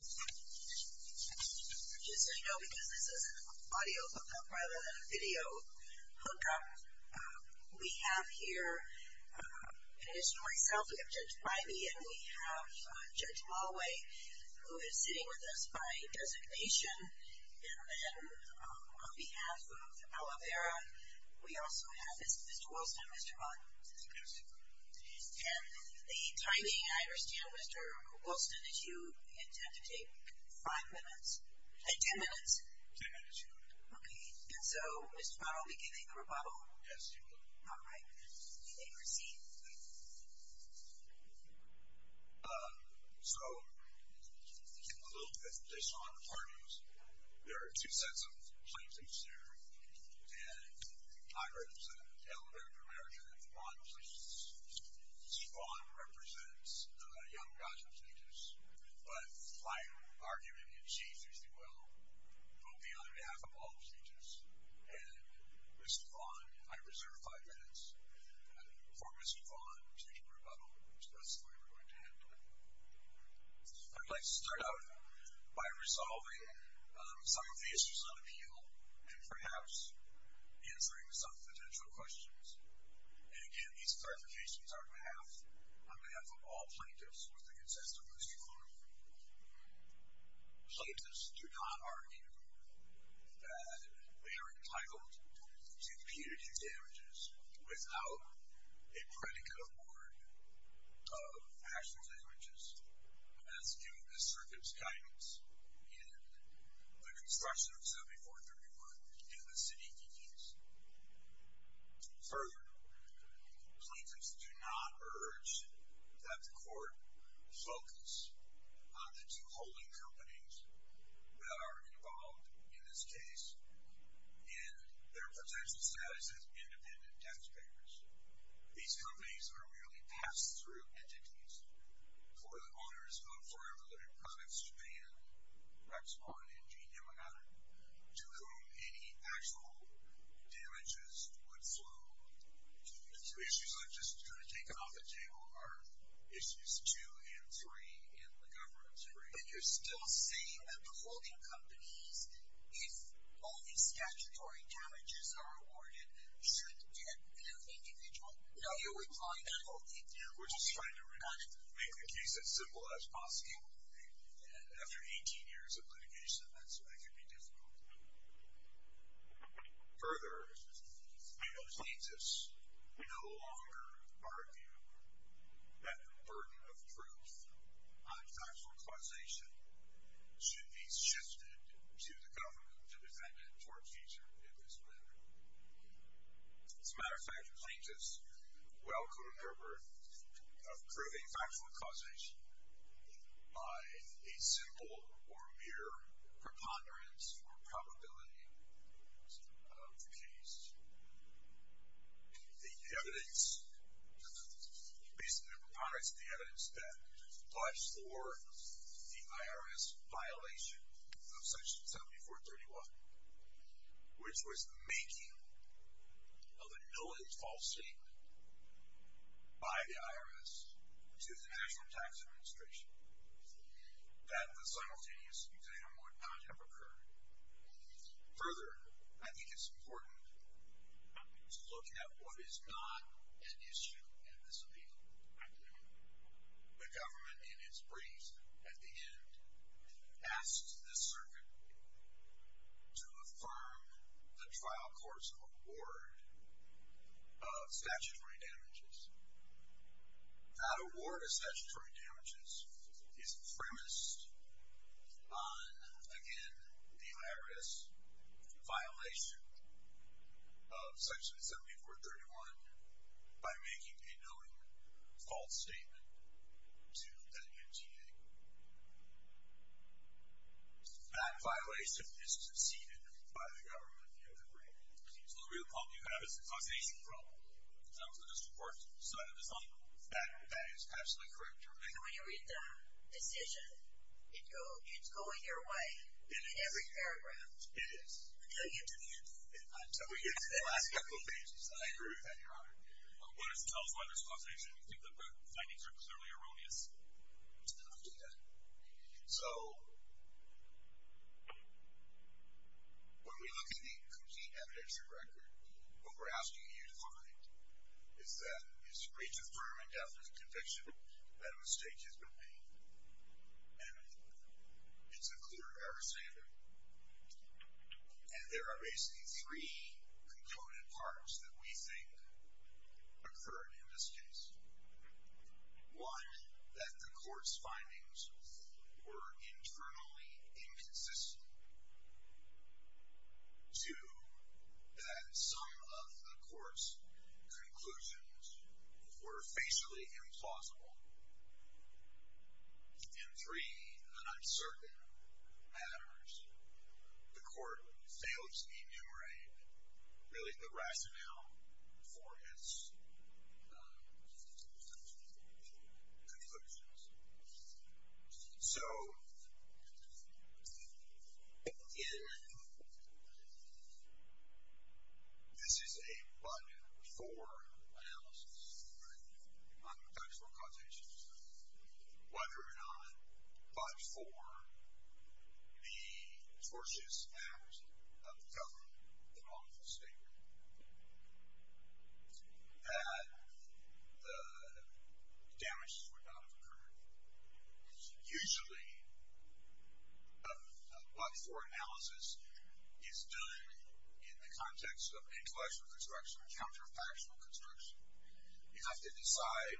Just so you know, because this is an audio hookup, rather than a video hookup, we have here, in addition to myself, we have Judge Bimey, and we have Judge Malway, who is sitting with us by designation. And then, on behalf of Aloe Vera, we also have Mr. Wilson and Mr. Vaughn. And the timing, I understand, Mr. Wilson, is you intend to take five minutes? Ten minutes? Ten minutes, Your Honor. Okay. And so, is tomorrow beginning the rebuttal? Yes, Your Honor. All right. You may proceed. Thank you. So, in the loop that they saw in the parties, there are two sets of plaintiffs there, and I represent Aloe Vera of America, and Mr. Vaughn represents Young Gossip Speeches. But my argument in chief is that we'll vote the other half of all the speeches, and Mr. Vaughn, I reserve five minutes for Mr. Vaughn to rebuttal, which that's the way we're going to handle it. I'd like to start out by resolving some of the issues on appeal and perhaps answering some potential questions. And, again, these clarifications are on behalf of all plaintiffs with the consent of Mr. Vaughn. Plaintiffs do not argue that they are entitled to punitive damages without a predicate award of actual damages, as given the circuit's guidance in the construction of 7431 and the city DDs. Further, plaintiffs do not urge that the court focus on the two holding companies that are involved in this case and their potential status as independent taxpayers. These companies are merely pass-through entities for the owners of Forever Living Products Japan, Rexpon, and G. Yamagata, to whom any actual damages would flow to. The issues I've just taken off the table are Issues 2 and 3 in the governance agreement. And you're still saying that the holding companies, if only statutory damages are awarded, should get a new individual? No, we're just trying to make the case as simple as possible. After 18 years of litigation, that's when it can be difficult. Further, plaintiffs no longer argue that the burden of proof on factual causation should be shifted to the government to defend it for its future in this manner. As a matter of fact, plaintiffs welcome the effort of proving factual causation by a simple or mere preponderance or probability of the case. The evidence, based on the preponderance of the evidence, that fought for the IRS violation of Section 7431, which was the making of a null and false statement by the IRS to the National Tax Administration, that the simultaneous exam would not have occurred. Further, I think it's important to look at what is not an issue in this appeal. The government, in its briefs at the end, asked the circuit to affirm the trial court's award of statutory damages. That award of statutory damages is premised on, again, the IRS violation of Section 7431 by making a null and false statement to the NTA. That violation is succeeded by the government in the other brief. So the real problem you have is the causation problem. That was the district court's side of the story. That is absolutely correct, Your Honor. And when you read the decision, it's going your way. It is. In every paragraph. It is. Until you get to the end. Until we get to the last couple of pages. I agree with that, Your Honor. What is the telephone responsibility? Do you think the findings are clearly erroneous? I'll do that. So, when we look at the complete evidence and record, what we're asking you to find is that it's a breach of firm and definite conviction that a mistake has been made. And it's a clear error standard. And there are basically three concluded parts that we think occurred in this case. One, that the court's findings were internally inconsistent. Two, that some of the court's conclusions were facially implausible. And three, an uncertain matters. The court failed to enumerate, really, the rationale for its conclusions. So, in the end, this is a but-for analysis, right? On contextual causation. But, or not, but for the tortious act of the government, the lawful state. That the damages would not have occurred. Usually, a but-for analysis is done in the context of intellectual construction or counterfactual construction. You have to decide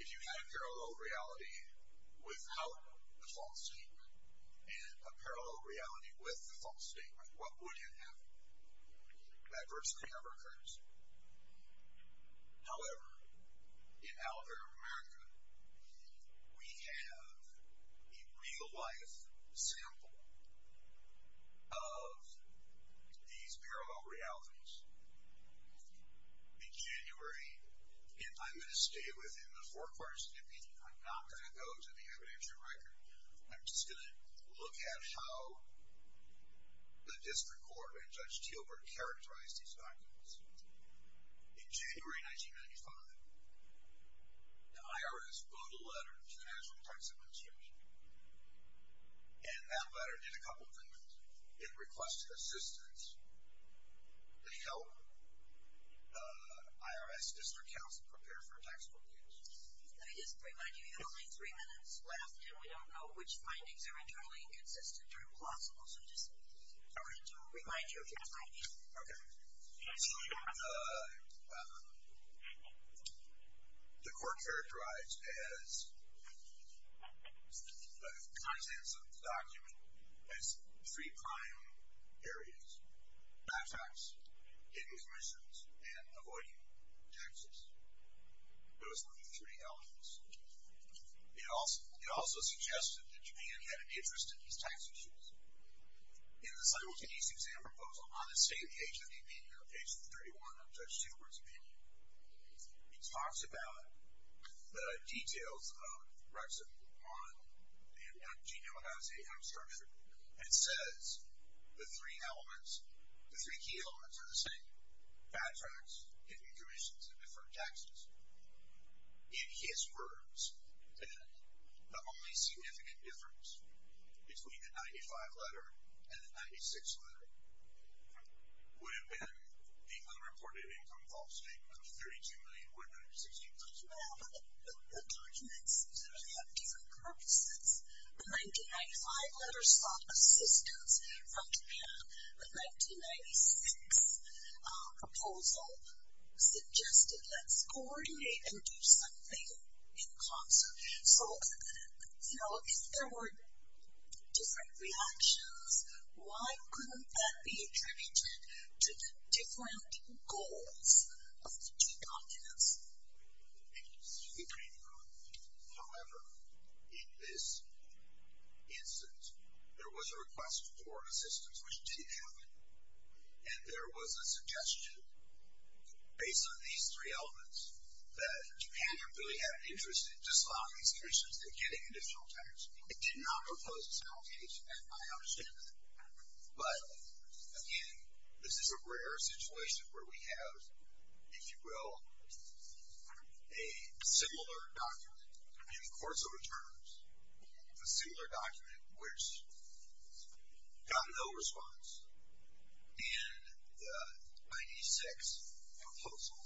if you had a parallel reality without a false statement, and a parallel reality with a false statement. What would have happened? Adversity never occurs. However, in Alabama, we have a real-life sample of these parallel realities. In January, I'm going to stay within the four-part snippet. I'm not going to go to the evidentiary record. I'm just going to look at how the district court and Judge Tielberg characterized these documents. In January 1995, the IRS wrote a letter to the National Tax Administration. And that letter did a couple things. It requested assistance to help the IRS district counsel prepare for a tax court case. Let me just remind you, you have only three minutes left, and we don't know which findings are internally inconsistent or implausible. So, I'm just going to remind you of your time. Okay. So, the court characterized the contents of the document as three prime areas. Bad facts, hidden commissions, and avoiding taxes. Those were the three elements. It also suggested that Japan had an interest in these tax issues. In the simultaneous exam proposal, on the same page of the opinion, on page 31 of Judge Tielberg's opinion, he talks about the details of Rexit 1 and what genome has, the outcome structure, and says the three elements, the three key elements are the same. Bad facts, hidden commissions, and deferred taxes. In his words, the only significant difference between the 95 letter and the 96 letter would have been the unreported income false statement of $32,160,000. Well, the documents really have different purposes. The 1995 letter sought assistance from Japan. The 1996 proposal suggested let's coordinate and do something in concert. So, you know, if there were different reactions, why couldn't that be attributed to the different goals of the two documents? Thank you. However, in this instance, there was a request for assistance, which didn't happen. And there was a suggestion, based on these three elements, that Japan really had an interest in disallowing these commissions and getting additional taxes. It did not propose this on its own page, in my understanding. But, again, this is a rare situation where we have, if you will, a similar document in the course of returns, a similar document which got no response in the 96 proposal,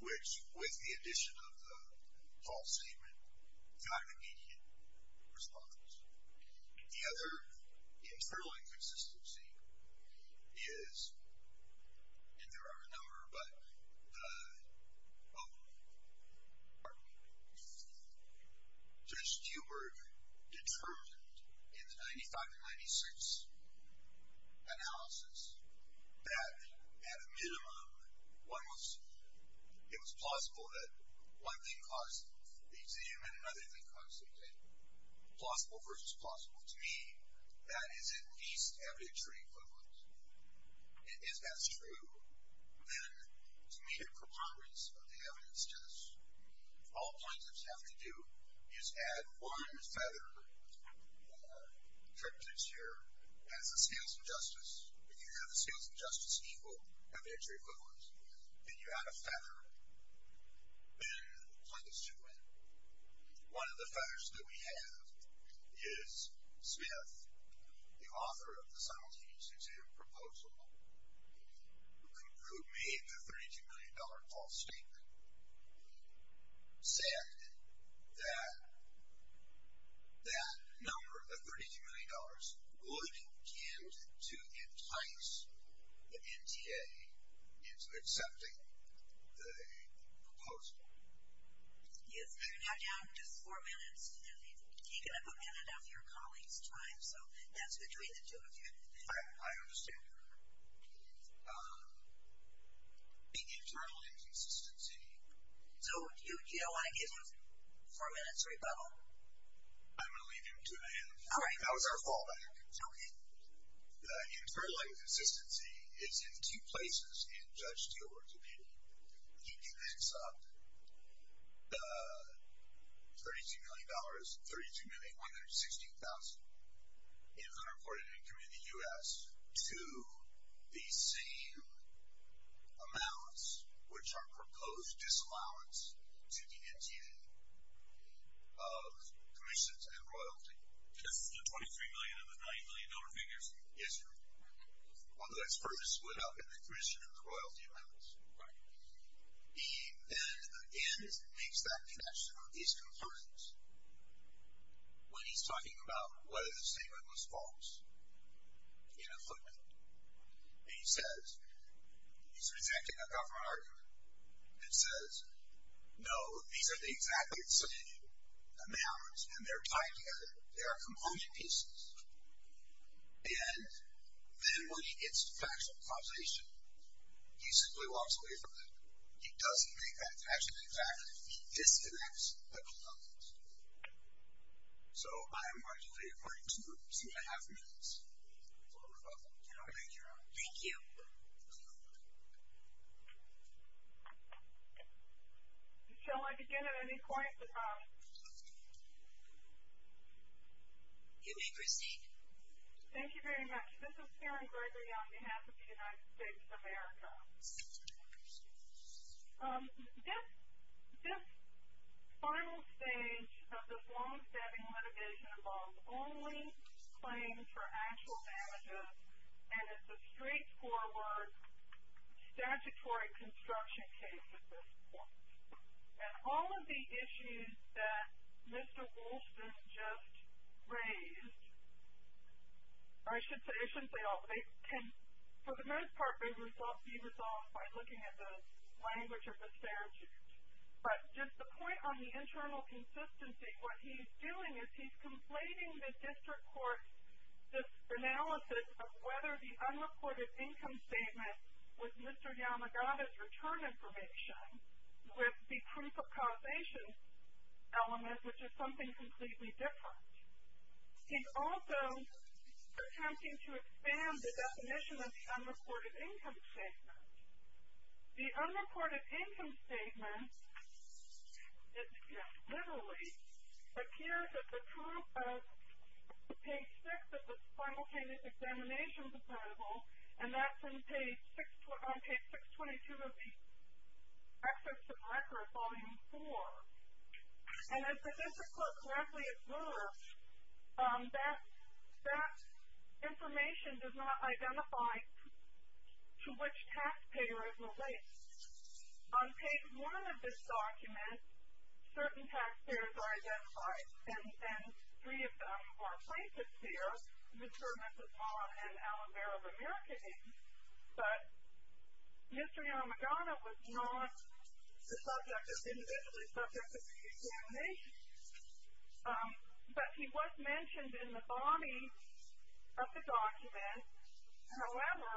which, with the addition of the false statement, got an immediate response. The other internal inconsistency is, and there are a number, but the, oh, pardon me. Judge Kubrick determined in the 95 and 96 analysis that at a minimum it was plausible that one thing caused the exam and another thing caused the exam. Plausible versus plausible. To me, that is at least evidentiary equivalent. If that's true, then to meet a preponderance of the evidence test, all plaintiffs have to do is add one feather. The trick to this here is the scales of justice. If you have the scales of justice equal evidentiary equivalence, then you add a feather, then plaintiffs do win. One of the feathers that we have is Smith, the author of the simultaneous exam proposal, who made the $32 million false statement, said that that number, the $32 million, wouldn't get to entice the NTA into accepting the proposal. Yes, you're now down just four minutes. You've taken up a minute of your colleague's time, so that's between the two of you. I understand, Your Honor. The internal inconsistency. So you don't want to give him a four-minute rebuttal? I'm going to leave him to it. All right. That was our fallback. Okay. Internal inconsistency is in two places in Judge Steelberg's opinion. He connects up the $32 million, $32,116,000, in unreported income in the U.S. to the same amounts which are proposed disallowance to the NTA of commissions and royalty. The $23 million and the $9 million figures? Yes, Your Honor. Although that's first split up in the commission and the royalty amounts. Right. And then, again, he makes that connection. He's concerned when he's talking about whether the statement was false. He had a footnote, and he says, he's presenting a proper argument. It says, no, these are the exactly the same amounts, and they're tied together. They are component pieces. And then when he gets to factual causation, he simply walks away from it. He doesn't make that connection exactly. He disconnects the components. So I am going to leave it for two and a half minutes for rebuttal. Thank you, Your Honor. Thank you. Shall I begin at any point? You may proceed. Thank you very much. This is Karen Gregory on behalf of the United States of America. This final stage of this long-stabbing litigation involves only claims for actual damages, and it's a straightforward statutory construction case at this point. And all of the issues that Mr. Wolfson just raised, I should say, they can, for the most part, be resolved by looking at the language of the statute. But just the point on the internal consistency, what he's doing is he's conflating the district court's analysis of whether the unreported income statement was Mr. Yamagata's return information with the proof of causation element, which is something completely different. He's also attempting to expand the definition of the unreported income statement. The unreported income statement, literally, appears as a proof of page six of the simultaneous examination proposal, and that's on page 622 of the Excerpt of Record, Volume 4. And as the district court gladly asserts, that information does not identify to which taxpayer it relates. On page one of this document, certain taxpayers are identified, and three of them are plaintiffs here, Mr. and Mrs. Maughan, and Alavare of America, but Mr. Yamagata was not the subject, individually the subject of the examination. But he was mentioned in the body of the document. However,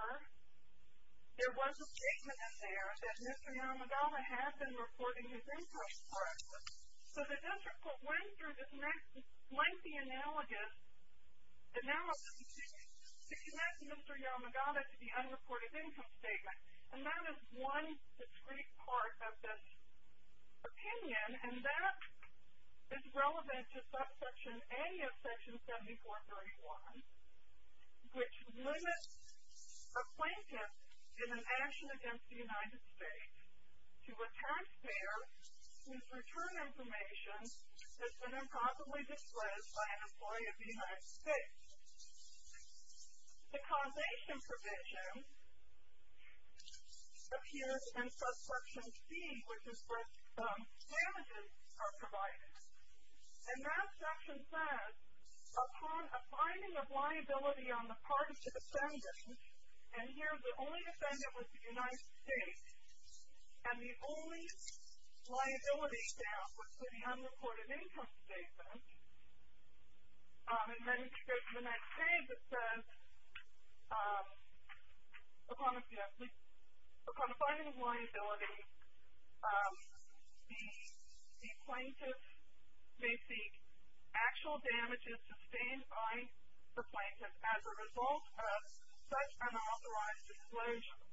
there was a statement in there that Mr. Yamagata had been reporting his income correctly. So the district court went through this lengthy analysis to connect Mr. Yamagata to the unreported income statement, and that is one discrete part of this opinion. And that is relevant to Subsection A of Section 7431, which limits a plaintiff in an action against the United States to a taxpayer whose return information has been improperly disclosed by an employee of the United States. The causation provision appears in Subsection C, which is where damages are provided. And that section says, upon a finding of liability on the part of the defendant, and here the only defendant was the United States, and the only liability staff was for the unreported income statement, and then in the next page it says, upon a finding of liability, the plaintiff may seek actual damages sustained by the plaintiff as a result of such unauthorized disclosure.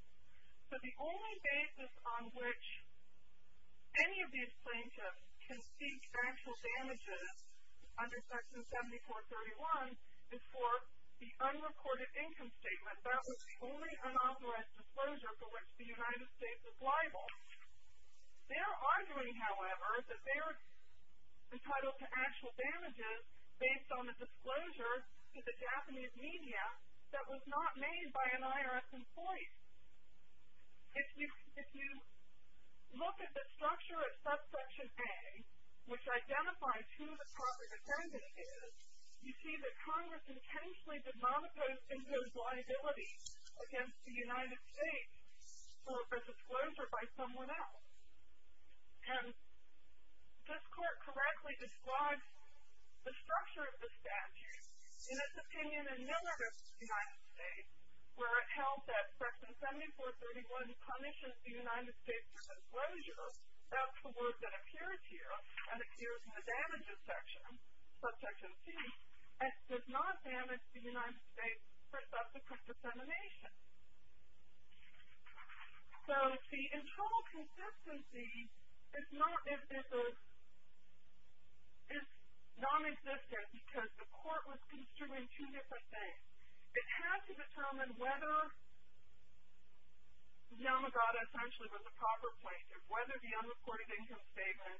So the only basis on which any of these plaintiffs can seek actual damages under Section 7431 is for the unrecorded income statement. That was the only unauthorized disclosure for which the United States was liable. They are arguing, however, that they are entitled to actual damages based on the disclosure to the Japanese media that was not made by an IRS employee. If you look at the structure of Subsection A, which identifies who the proper defendant is, you see that Congress intentionally did not impose any of those liabilities against the United States for a disclosure by someone else. And this Court correctly describes the structure of the statute in its opinion as a diminutive of the United States, where it held that Section 7431 punishes the United States for disclosure. That's the word that appears here, and appears in the damages section, Subsection C, and does not damage the United States for subsequent dissemination. So the internal consistency is non-existent because the Court was construing two different things. It has to determine whether Yamagata essentially was the proper plaintiff, whether the unreported income statement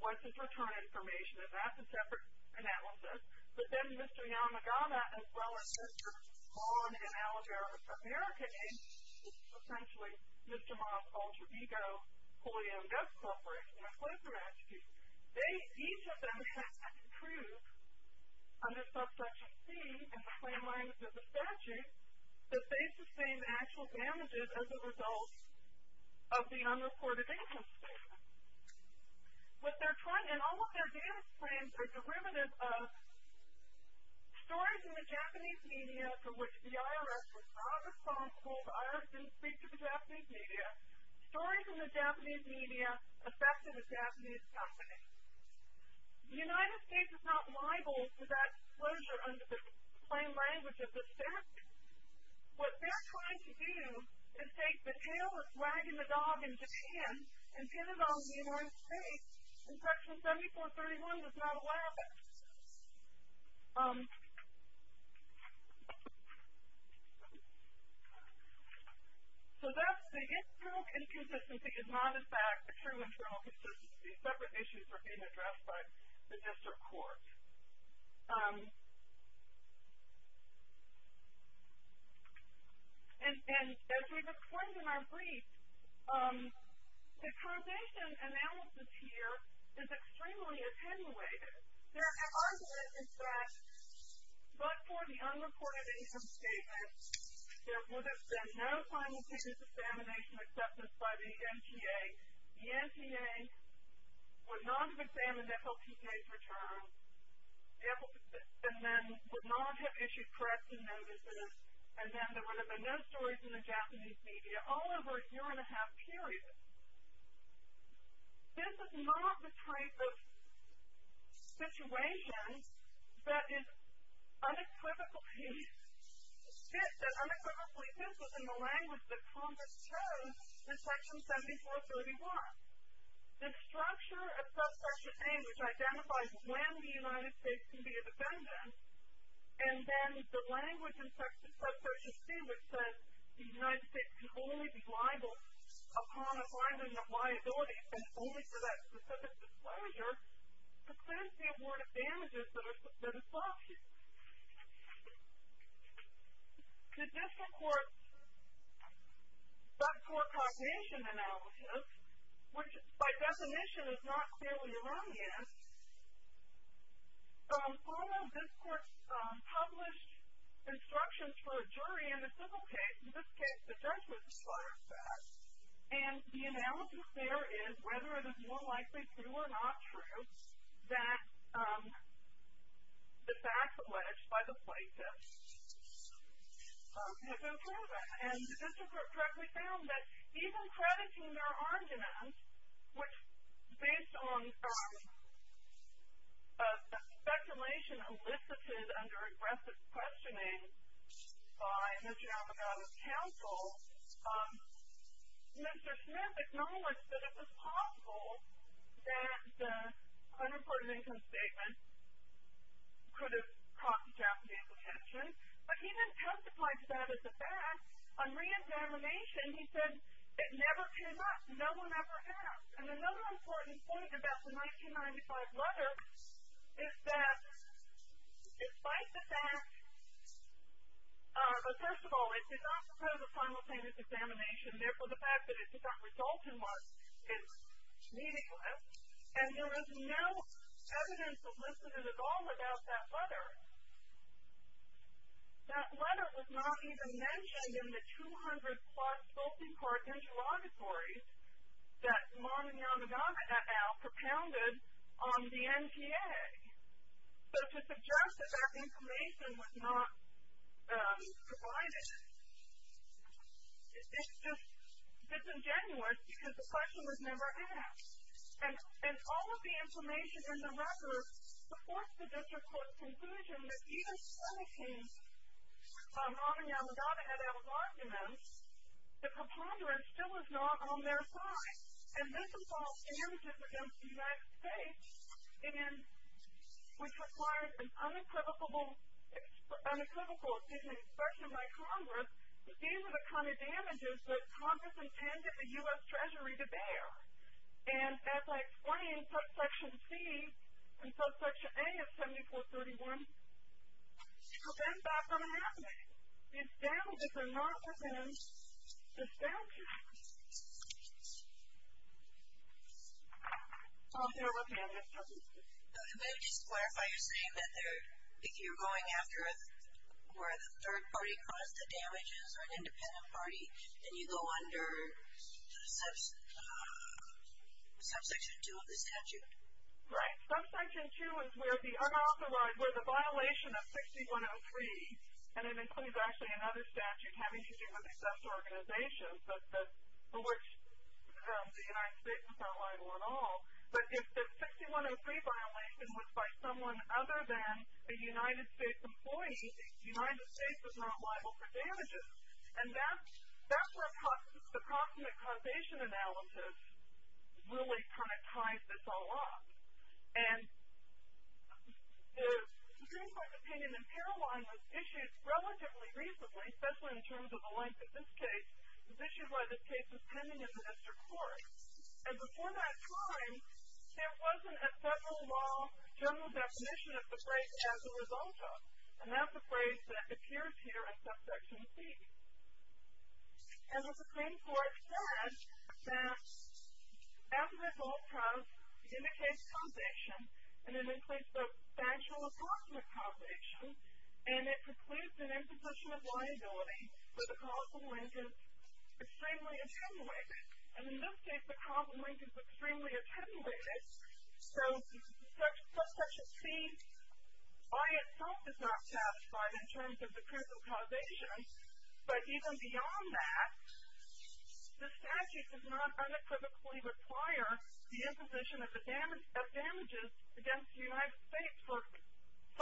was his return information, and that's a separate analysis. But then Mr. Yamagata, as well as Mr. Vaughn and Alabama's American agents, essentially Mr. Moss, Alter Ego, Holy M. Goats Corporation, they each of them have to prove under Subsection C in the claim language of the statute that they sustained actual damages as a result of the unreported income statement. And all of their damage claims are derivative of stories in the Japanese media for which the IRS was not responsible, the IRS didn't speak to the Japanese media, but stories in the Japanese media affected the Japanese company. The United States is not liable for that disclosure under the claim language of the statute. What they're trying to do is take the tale of wagging the dog in Japan and pin it on the United States, and Section 7431 does not allow that. So that's the internal inconsistency is not in fact true internal consistency. Separate issues are being addressed by the district court. And as we've explained in our brief, the probation analysis here is extremely attenuated. Their argument is that but for the unreported income statement, there would have been no final case examination acceptance by the NTA. The NTA would not have examined FLPK's return, and then would not have issued press and notices, and then there would have been no stories in the Japanese media all over a year-and-a-half period. This is not the type of situation that is unequivocally fit, that unequivocally fits within the language that Congress chose in Section 7431. The structure of Subsection A, which identifies when the United States can be a defendant, and then the language in Subsection C, which says the United States can only be liable upon a finding of liability and only for that specific disclosure, presents the award of damages that are substantive. The district court's subcourt cognition analysis, which by definition is not clearly around the N, although this court published instructions for a jury in the civil case, in this case the judge was required back, and the analysis there is whether it is more likely true or not true that the facts alleged by the plaintiff have been proven. And the district court directly found that even crediting their argument, which based on speculation elicited under aggressive questioning by Mr. Alamogaddo's counsel, Mr. Smith acknowledged that it was possible that the unimportant income statement could have caught the Japanese's attention, but he didn't testify to that as a fact. On re-examination, he said it never came up. No one ever asked. And another important thing about the 1995 letter is that despite the fact, first of all, it did not propose a final plaintiff's examination, therefore the fact that it did not result in one is meaningless, and there is no evidence of lipidism at all about that letter. That letter was not even mentioned in the 200-plus spokesman of the district court's interlocutories that Mon and Yamagata et al. propounded on the NPA. So to suggest that that information was not provided, it's just disingenuous because the question was never asked. And all of the information in the record supports the district court's conclusion that even citing Mon and Yamagata et al.'s arguments, the preponderance still was not on their side. And this involved damages against the United States, which required an unequivocal, excuse me, expression by Congress that these are the kind of damages that Congress intended the U.S. Treasury to bear. And as I explained, subsection C and subsection A of 7431 prevent that from happening. These damages are not within the statute. I don't care what they are. Ms. Hudson. Can I just clarify? You're saying that if you're going after where the third party caused the damages or an independent party, then you go under subsection 2 of the statute? Right. Subsection 2 is where the unauthorized, where the violation of 6103, and it includes actually another statute having to do with excessive organizations, but for which the United States was not liable at all. But if the 6103 violation was by someone other than a United States employee, the United States was not liable for damages. And that's where the proximate causation analysis really kind of ties this all up. And the Supreme Court's opinion in Caroline was issued relatively recently, especially in terms of the length of this case, was issued while this case was pending in the district court. And before that time, there wasn't a federal law general definition of the break as a result of. And that's the phrase that appears here at subsection C. And the Supreme Court said that after this whole process indicates causation, and it includes both factual and proximate causation, and it precludes an imposition of liability where the causal link is extremely attenuated. And in this case, the causal link is extremely attenuated. So subsection C by itself is not satisfied in terms of the critical causation. But even beyond that, the statute does not unequivocally require the imposition of damages against the United States for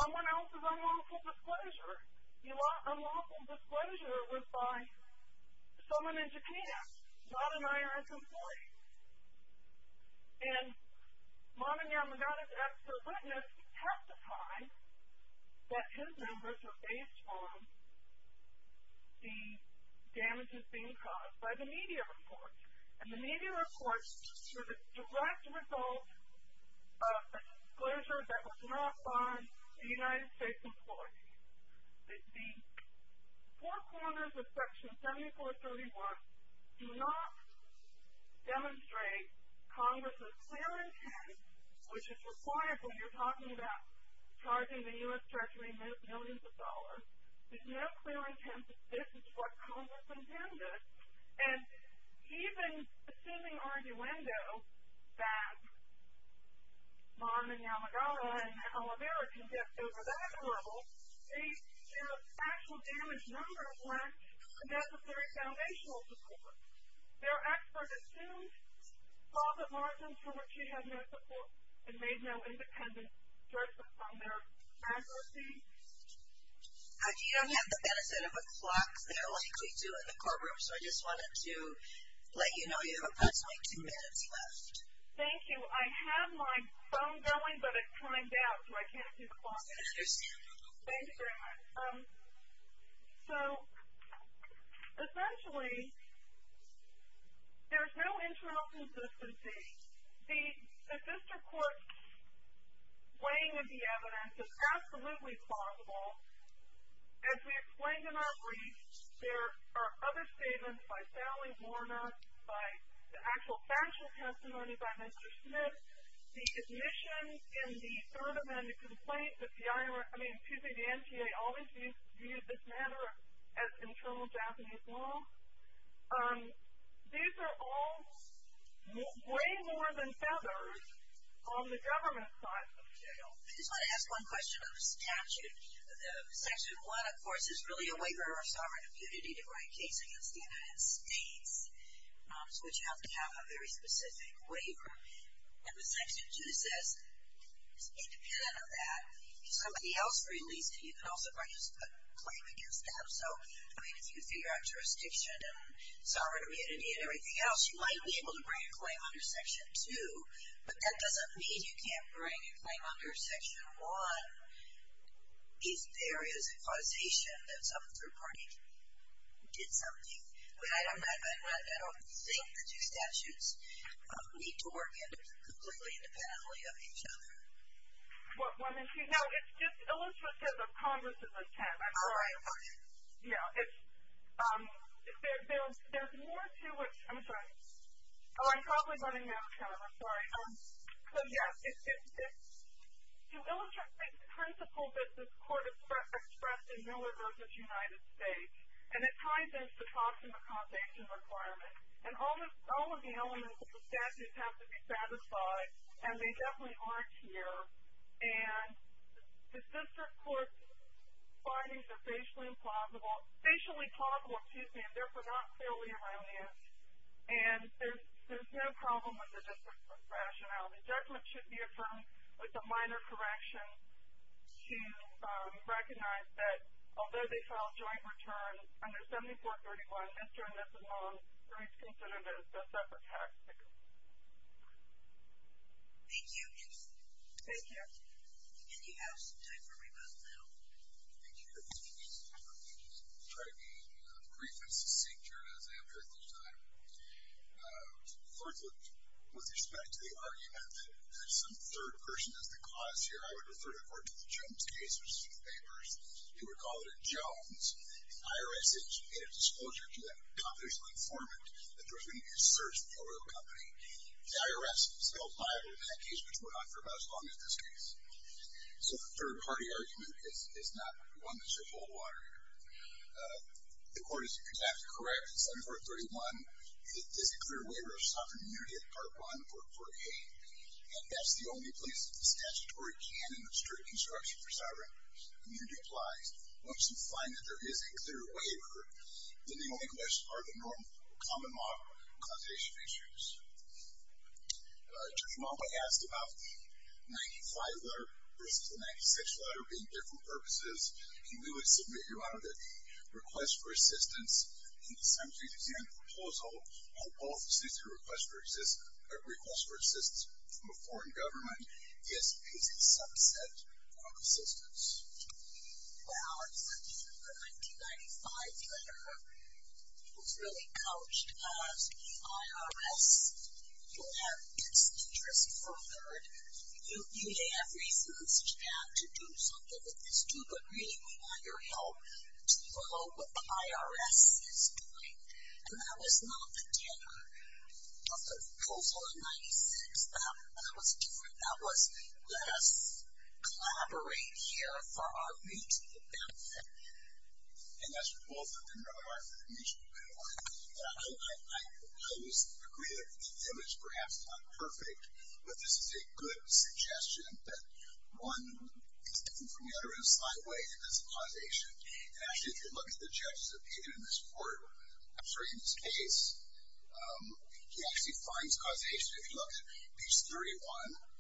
someone else's unlawful disclosure. The unlawful disclosure was by someone in Japan, not an IRS employee. And Marvin Yamagata's expert witness testified that his numbers were based on the damages being caused by the media reports. And the media reports were the direct result of a disclosure that was not by a United States employee. The four corners of section 7431 do not demonstrate Congress's clear intent, which is required when you're talking about charging the U.S. Treasury millions of dollars. There's no clear intent that this is what Congress intended. And even assuming arguendo that Marvin Yamagata and Alavera can get over that hurdle, the actual damage numbers weren't a necessary foundational support. Their expert assumed profit margins from which he had no support and made no independent judgment on their accuracy. You don't have the benefit of a clock there like we do in the courtroom, so I just wanted to let you know you have approximately two minutes left. Thank you. I have my phone going, but it's timed out so I can't see the clock. I understand. Thank you very much. So, essentially, there's no internal consistency. The district court weighing of the evidence is absolutely plausible. As we explained in our brief, there are other statements by Sally Warner, by the actual factual testimony by Mr. Smith, the admissions in the third amendment complaint that the NGA always viewed this matter as internal Japanese law. These are all way more than feathers on the government side of jail. I just want to ask one question on the statute. Section 1, of course, is really a waiver of sovereign impunity to write a case against the United States, which has to have a very specific waiver. And the Section 2 says it's independent of that. If somebody else released it, you could also bring a claim against them. So, I mean, if you figure out jurisdiction and sovereign immunity and everything else, you might be able to bring a claim under Section 2, but that doesn't mean you can't bring a claim under Section 1 if there is a causation that some third party did something. I don't think the two statutes need to work completely independently of each other. Now, it's just illustrative of Congress at this time. All right. Yeah. There's more to it. I'm sorry. Oh, I'm probably running out of time. I'm sorry. Let me ask you. It's an illustrative principle that this Court expressed in Miller v. United States, and it ties into the cost of accommodation requirement. And all of the elements of the statute have to be satisfied, and they definitely aren't here. And the district court's findings are facially plausible, excuse me, and therefore not clearly erroneous. And there's no problem with the district court's rationality. Judgment should be affirmed with a minor correction to recognize that, although they filed joint return under 7431, entering this alone is considered a separate tax bill. Thank you. Thank you. And you have some time for rebuttal now. Thank you, Your Honor. Let me just try to be brief and succinct here as I am at this time. First, with respect to the argument that there's some third person as the cause here, I would refer the Court to the Jones case, which is in the papers. You would call it a Jones. In higher essence, it is disclosure to that confidential informant that there's going to be a search of the oil company. The IRS is held liable in that case, which went on for about as long as this case. So a third-party argument is not one that's your whole water. The Court is exactly correct in 7431, it is a clear waiver of sovereign immunity at Part 1, Part 4a, and that's the only place that the statutory canon of strict instruction for sovereign immunity applies. Once you find that there is a clear waiver, then the only questions are the normal common law causation issues. Judge Malma asked about the 95 letter versus the 96 letter being different purposes, and we would submit, Your Honor, that the request for assistance in the San Jose, Louisiana proposal requests for assistance from a foreign government is a subset of assistance. Well, in the 1995 letter, it was really couched as the IRS will have its interests furthered. You may have reasons to have to do something with this too, but really we want your help to follow what the IRS is doing. And that was not the dinner of the proposal in 96. That was different. That was let us collaborate here for our mutual benefit. And that's both a dinner of our mutual benefit. I always agree that the image perhaps is not perfect, but this is a good suggestion that one is different from the other in a slight way in this causation. And actually, if you look at the judges that have been in this court, I'm sorry, in this case, he actually finds causation. If you look at piece 31,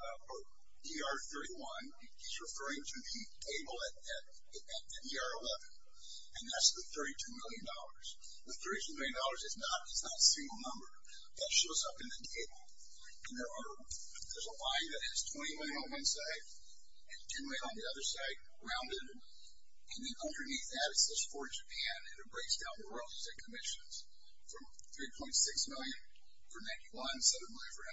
or DR 31, he's referring to the table at DR 11, and that's the $32 million. The $32 million is not a single number. That shows up in the table. And there's a line that has 20 men on one side and two men on the other side, rounded, and then underneath that it says for Japan, and it breaks down the royalties and commissions from $3.6 million for 91, $7 million for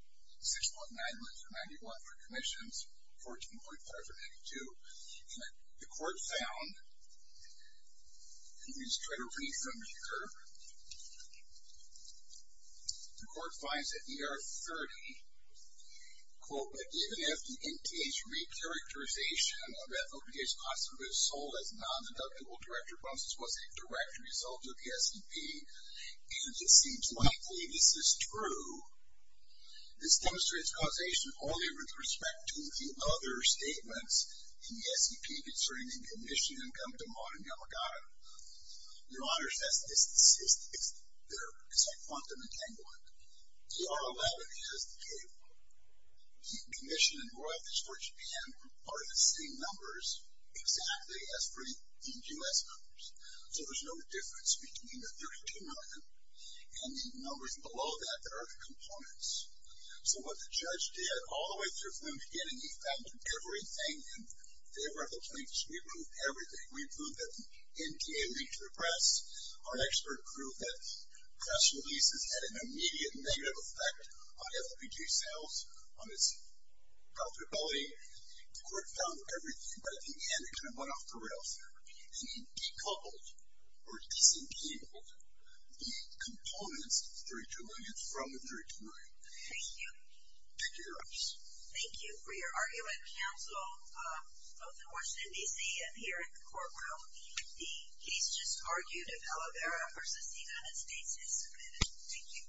92, $6.9 million for 91 for commissions, $14.5 million for 92. And the court found, and we just try to read from here, the court finds that DR 30, quote, that even if the NTA's re-characterization of that OPA's constituent was sold as non-deductible, Director Brunson's was a direct result of the SEP, and it seems likely this is true, this demonstrates causation only with respect to the other statements in the SEP concerning the commission income demand in Yamagata. Your Honor, it's a quantum entanglement. DR allowed it as the table. The commission and royalties for Japan are the same numbers exactly as for the U.S. numbers. So there's no difference between the $32 million and the numbers below that that are the components. So what the judge did all the way through from the beginning, he found everything in favor of the plaintiffs, we proved everything. We proved that the NTA reached the press. Our expert proved that press releases had an immediate negative effect on FOPG sales, on its profitability. The court found everything, but at the end it kind of went off the rails and decoupled or disentabled the components of the $32 million from the $32 million. Thank you. Thank you, Your Honor. Both in Washington, D.C. and here in the courtroom, the case just argued if Aloe Vera versus the United States is submitted. Thank you.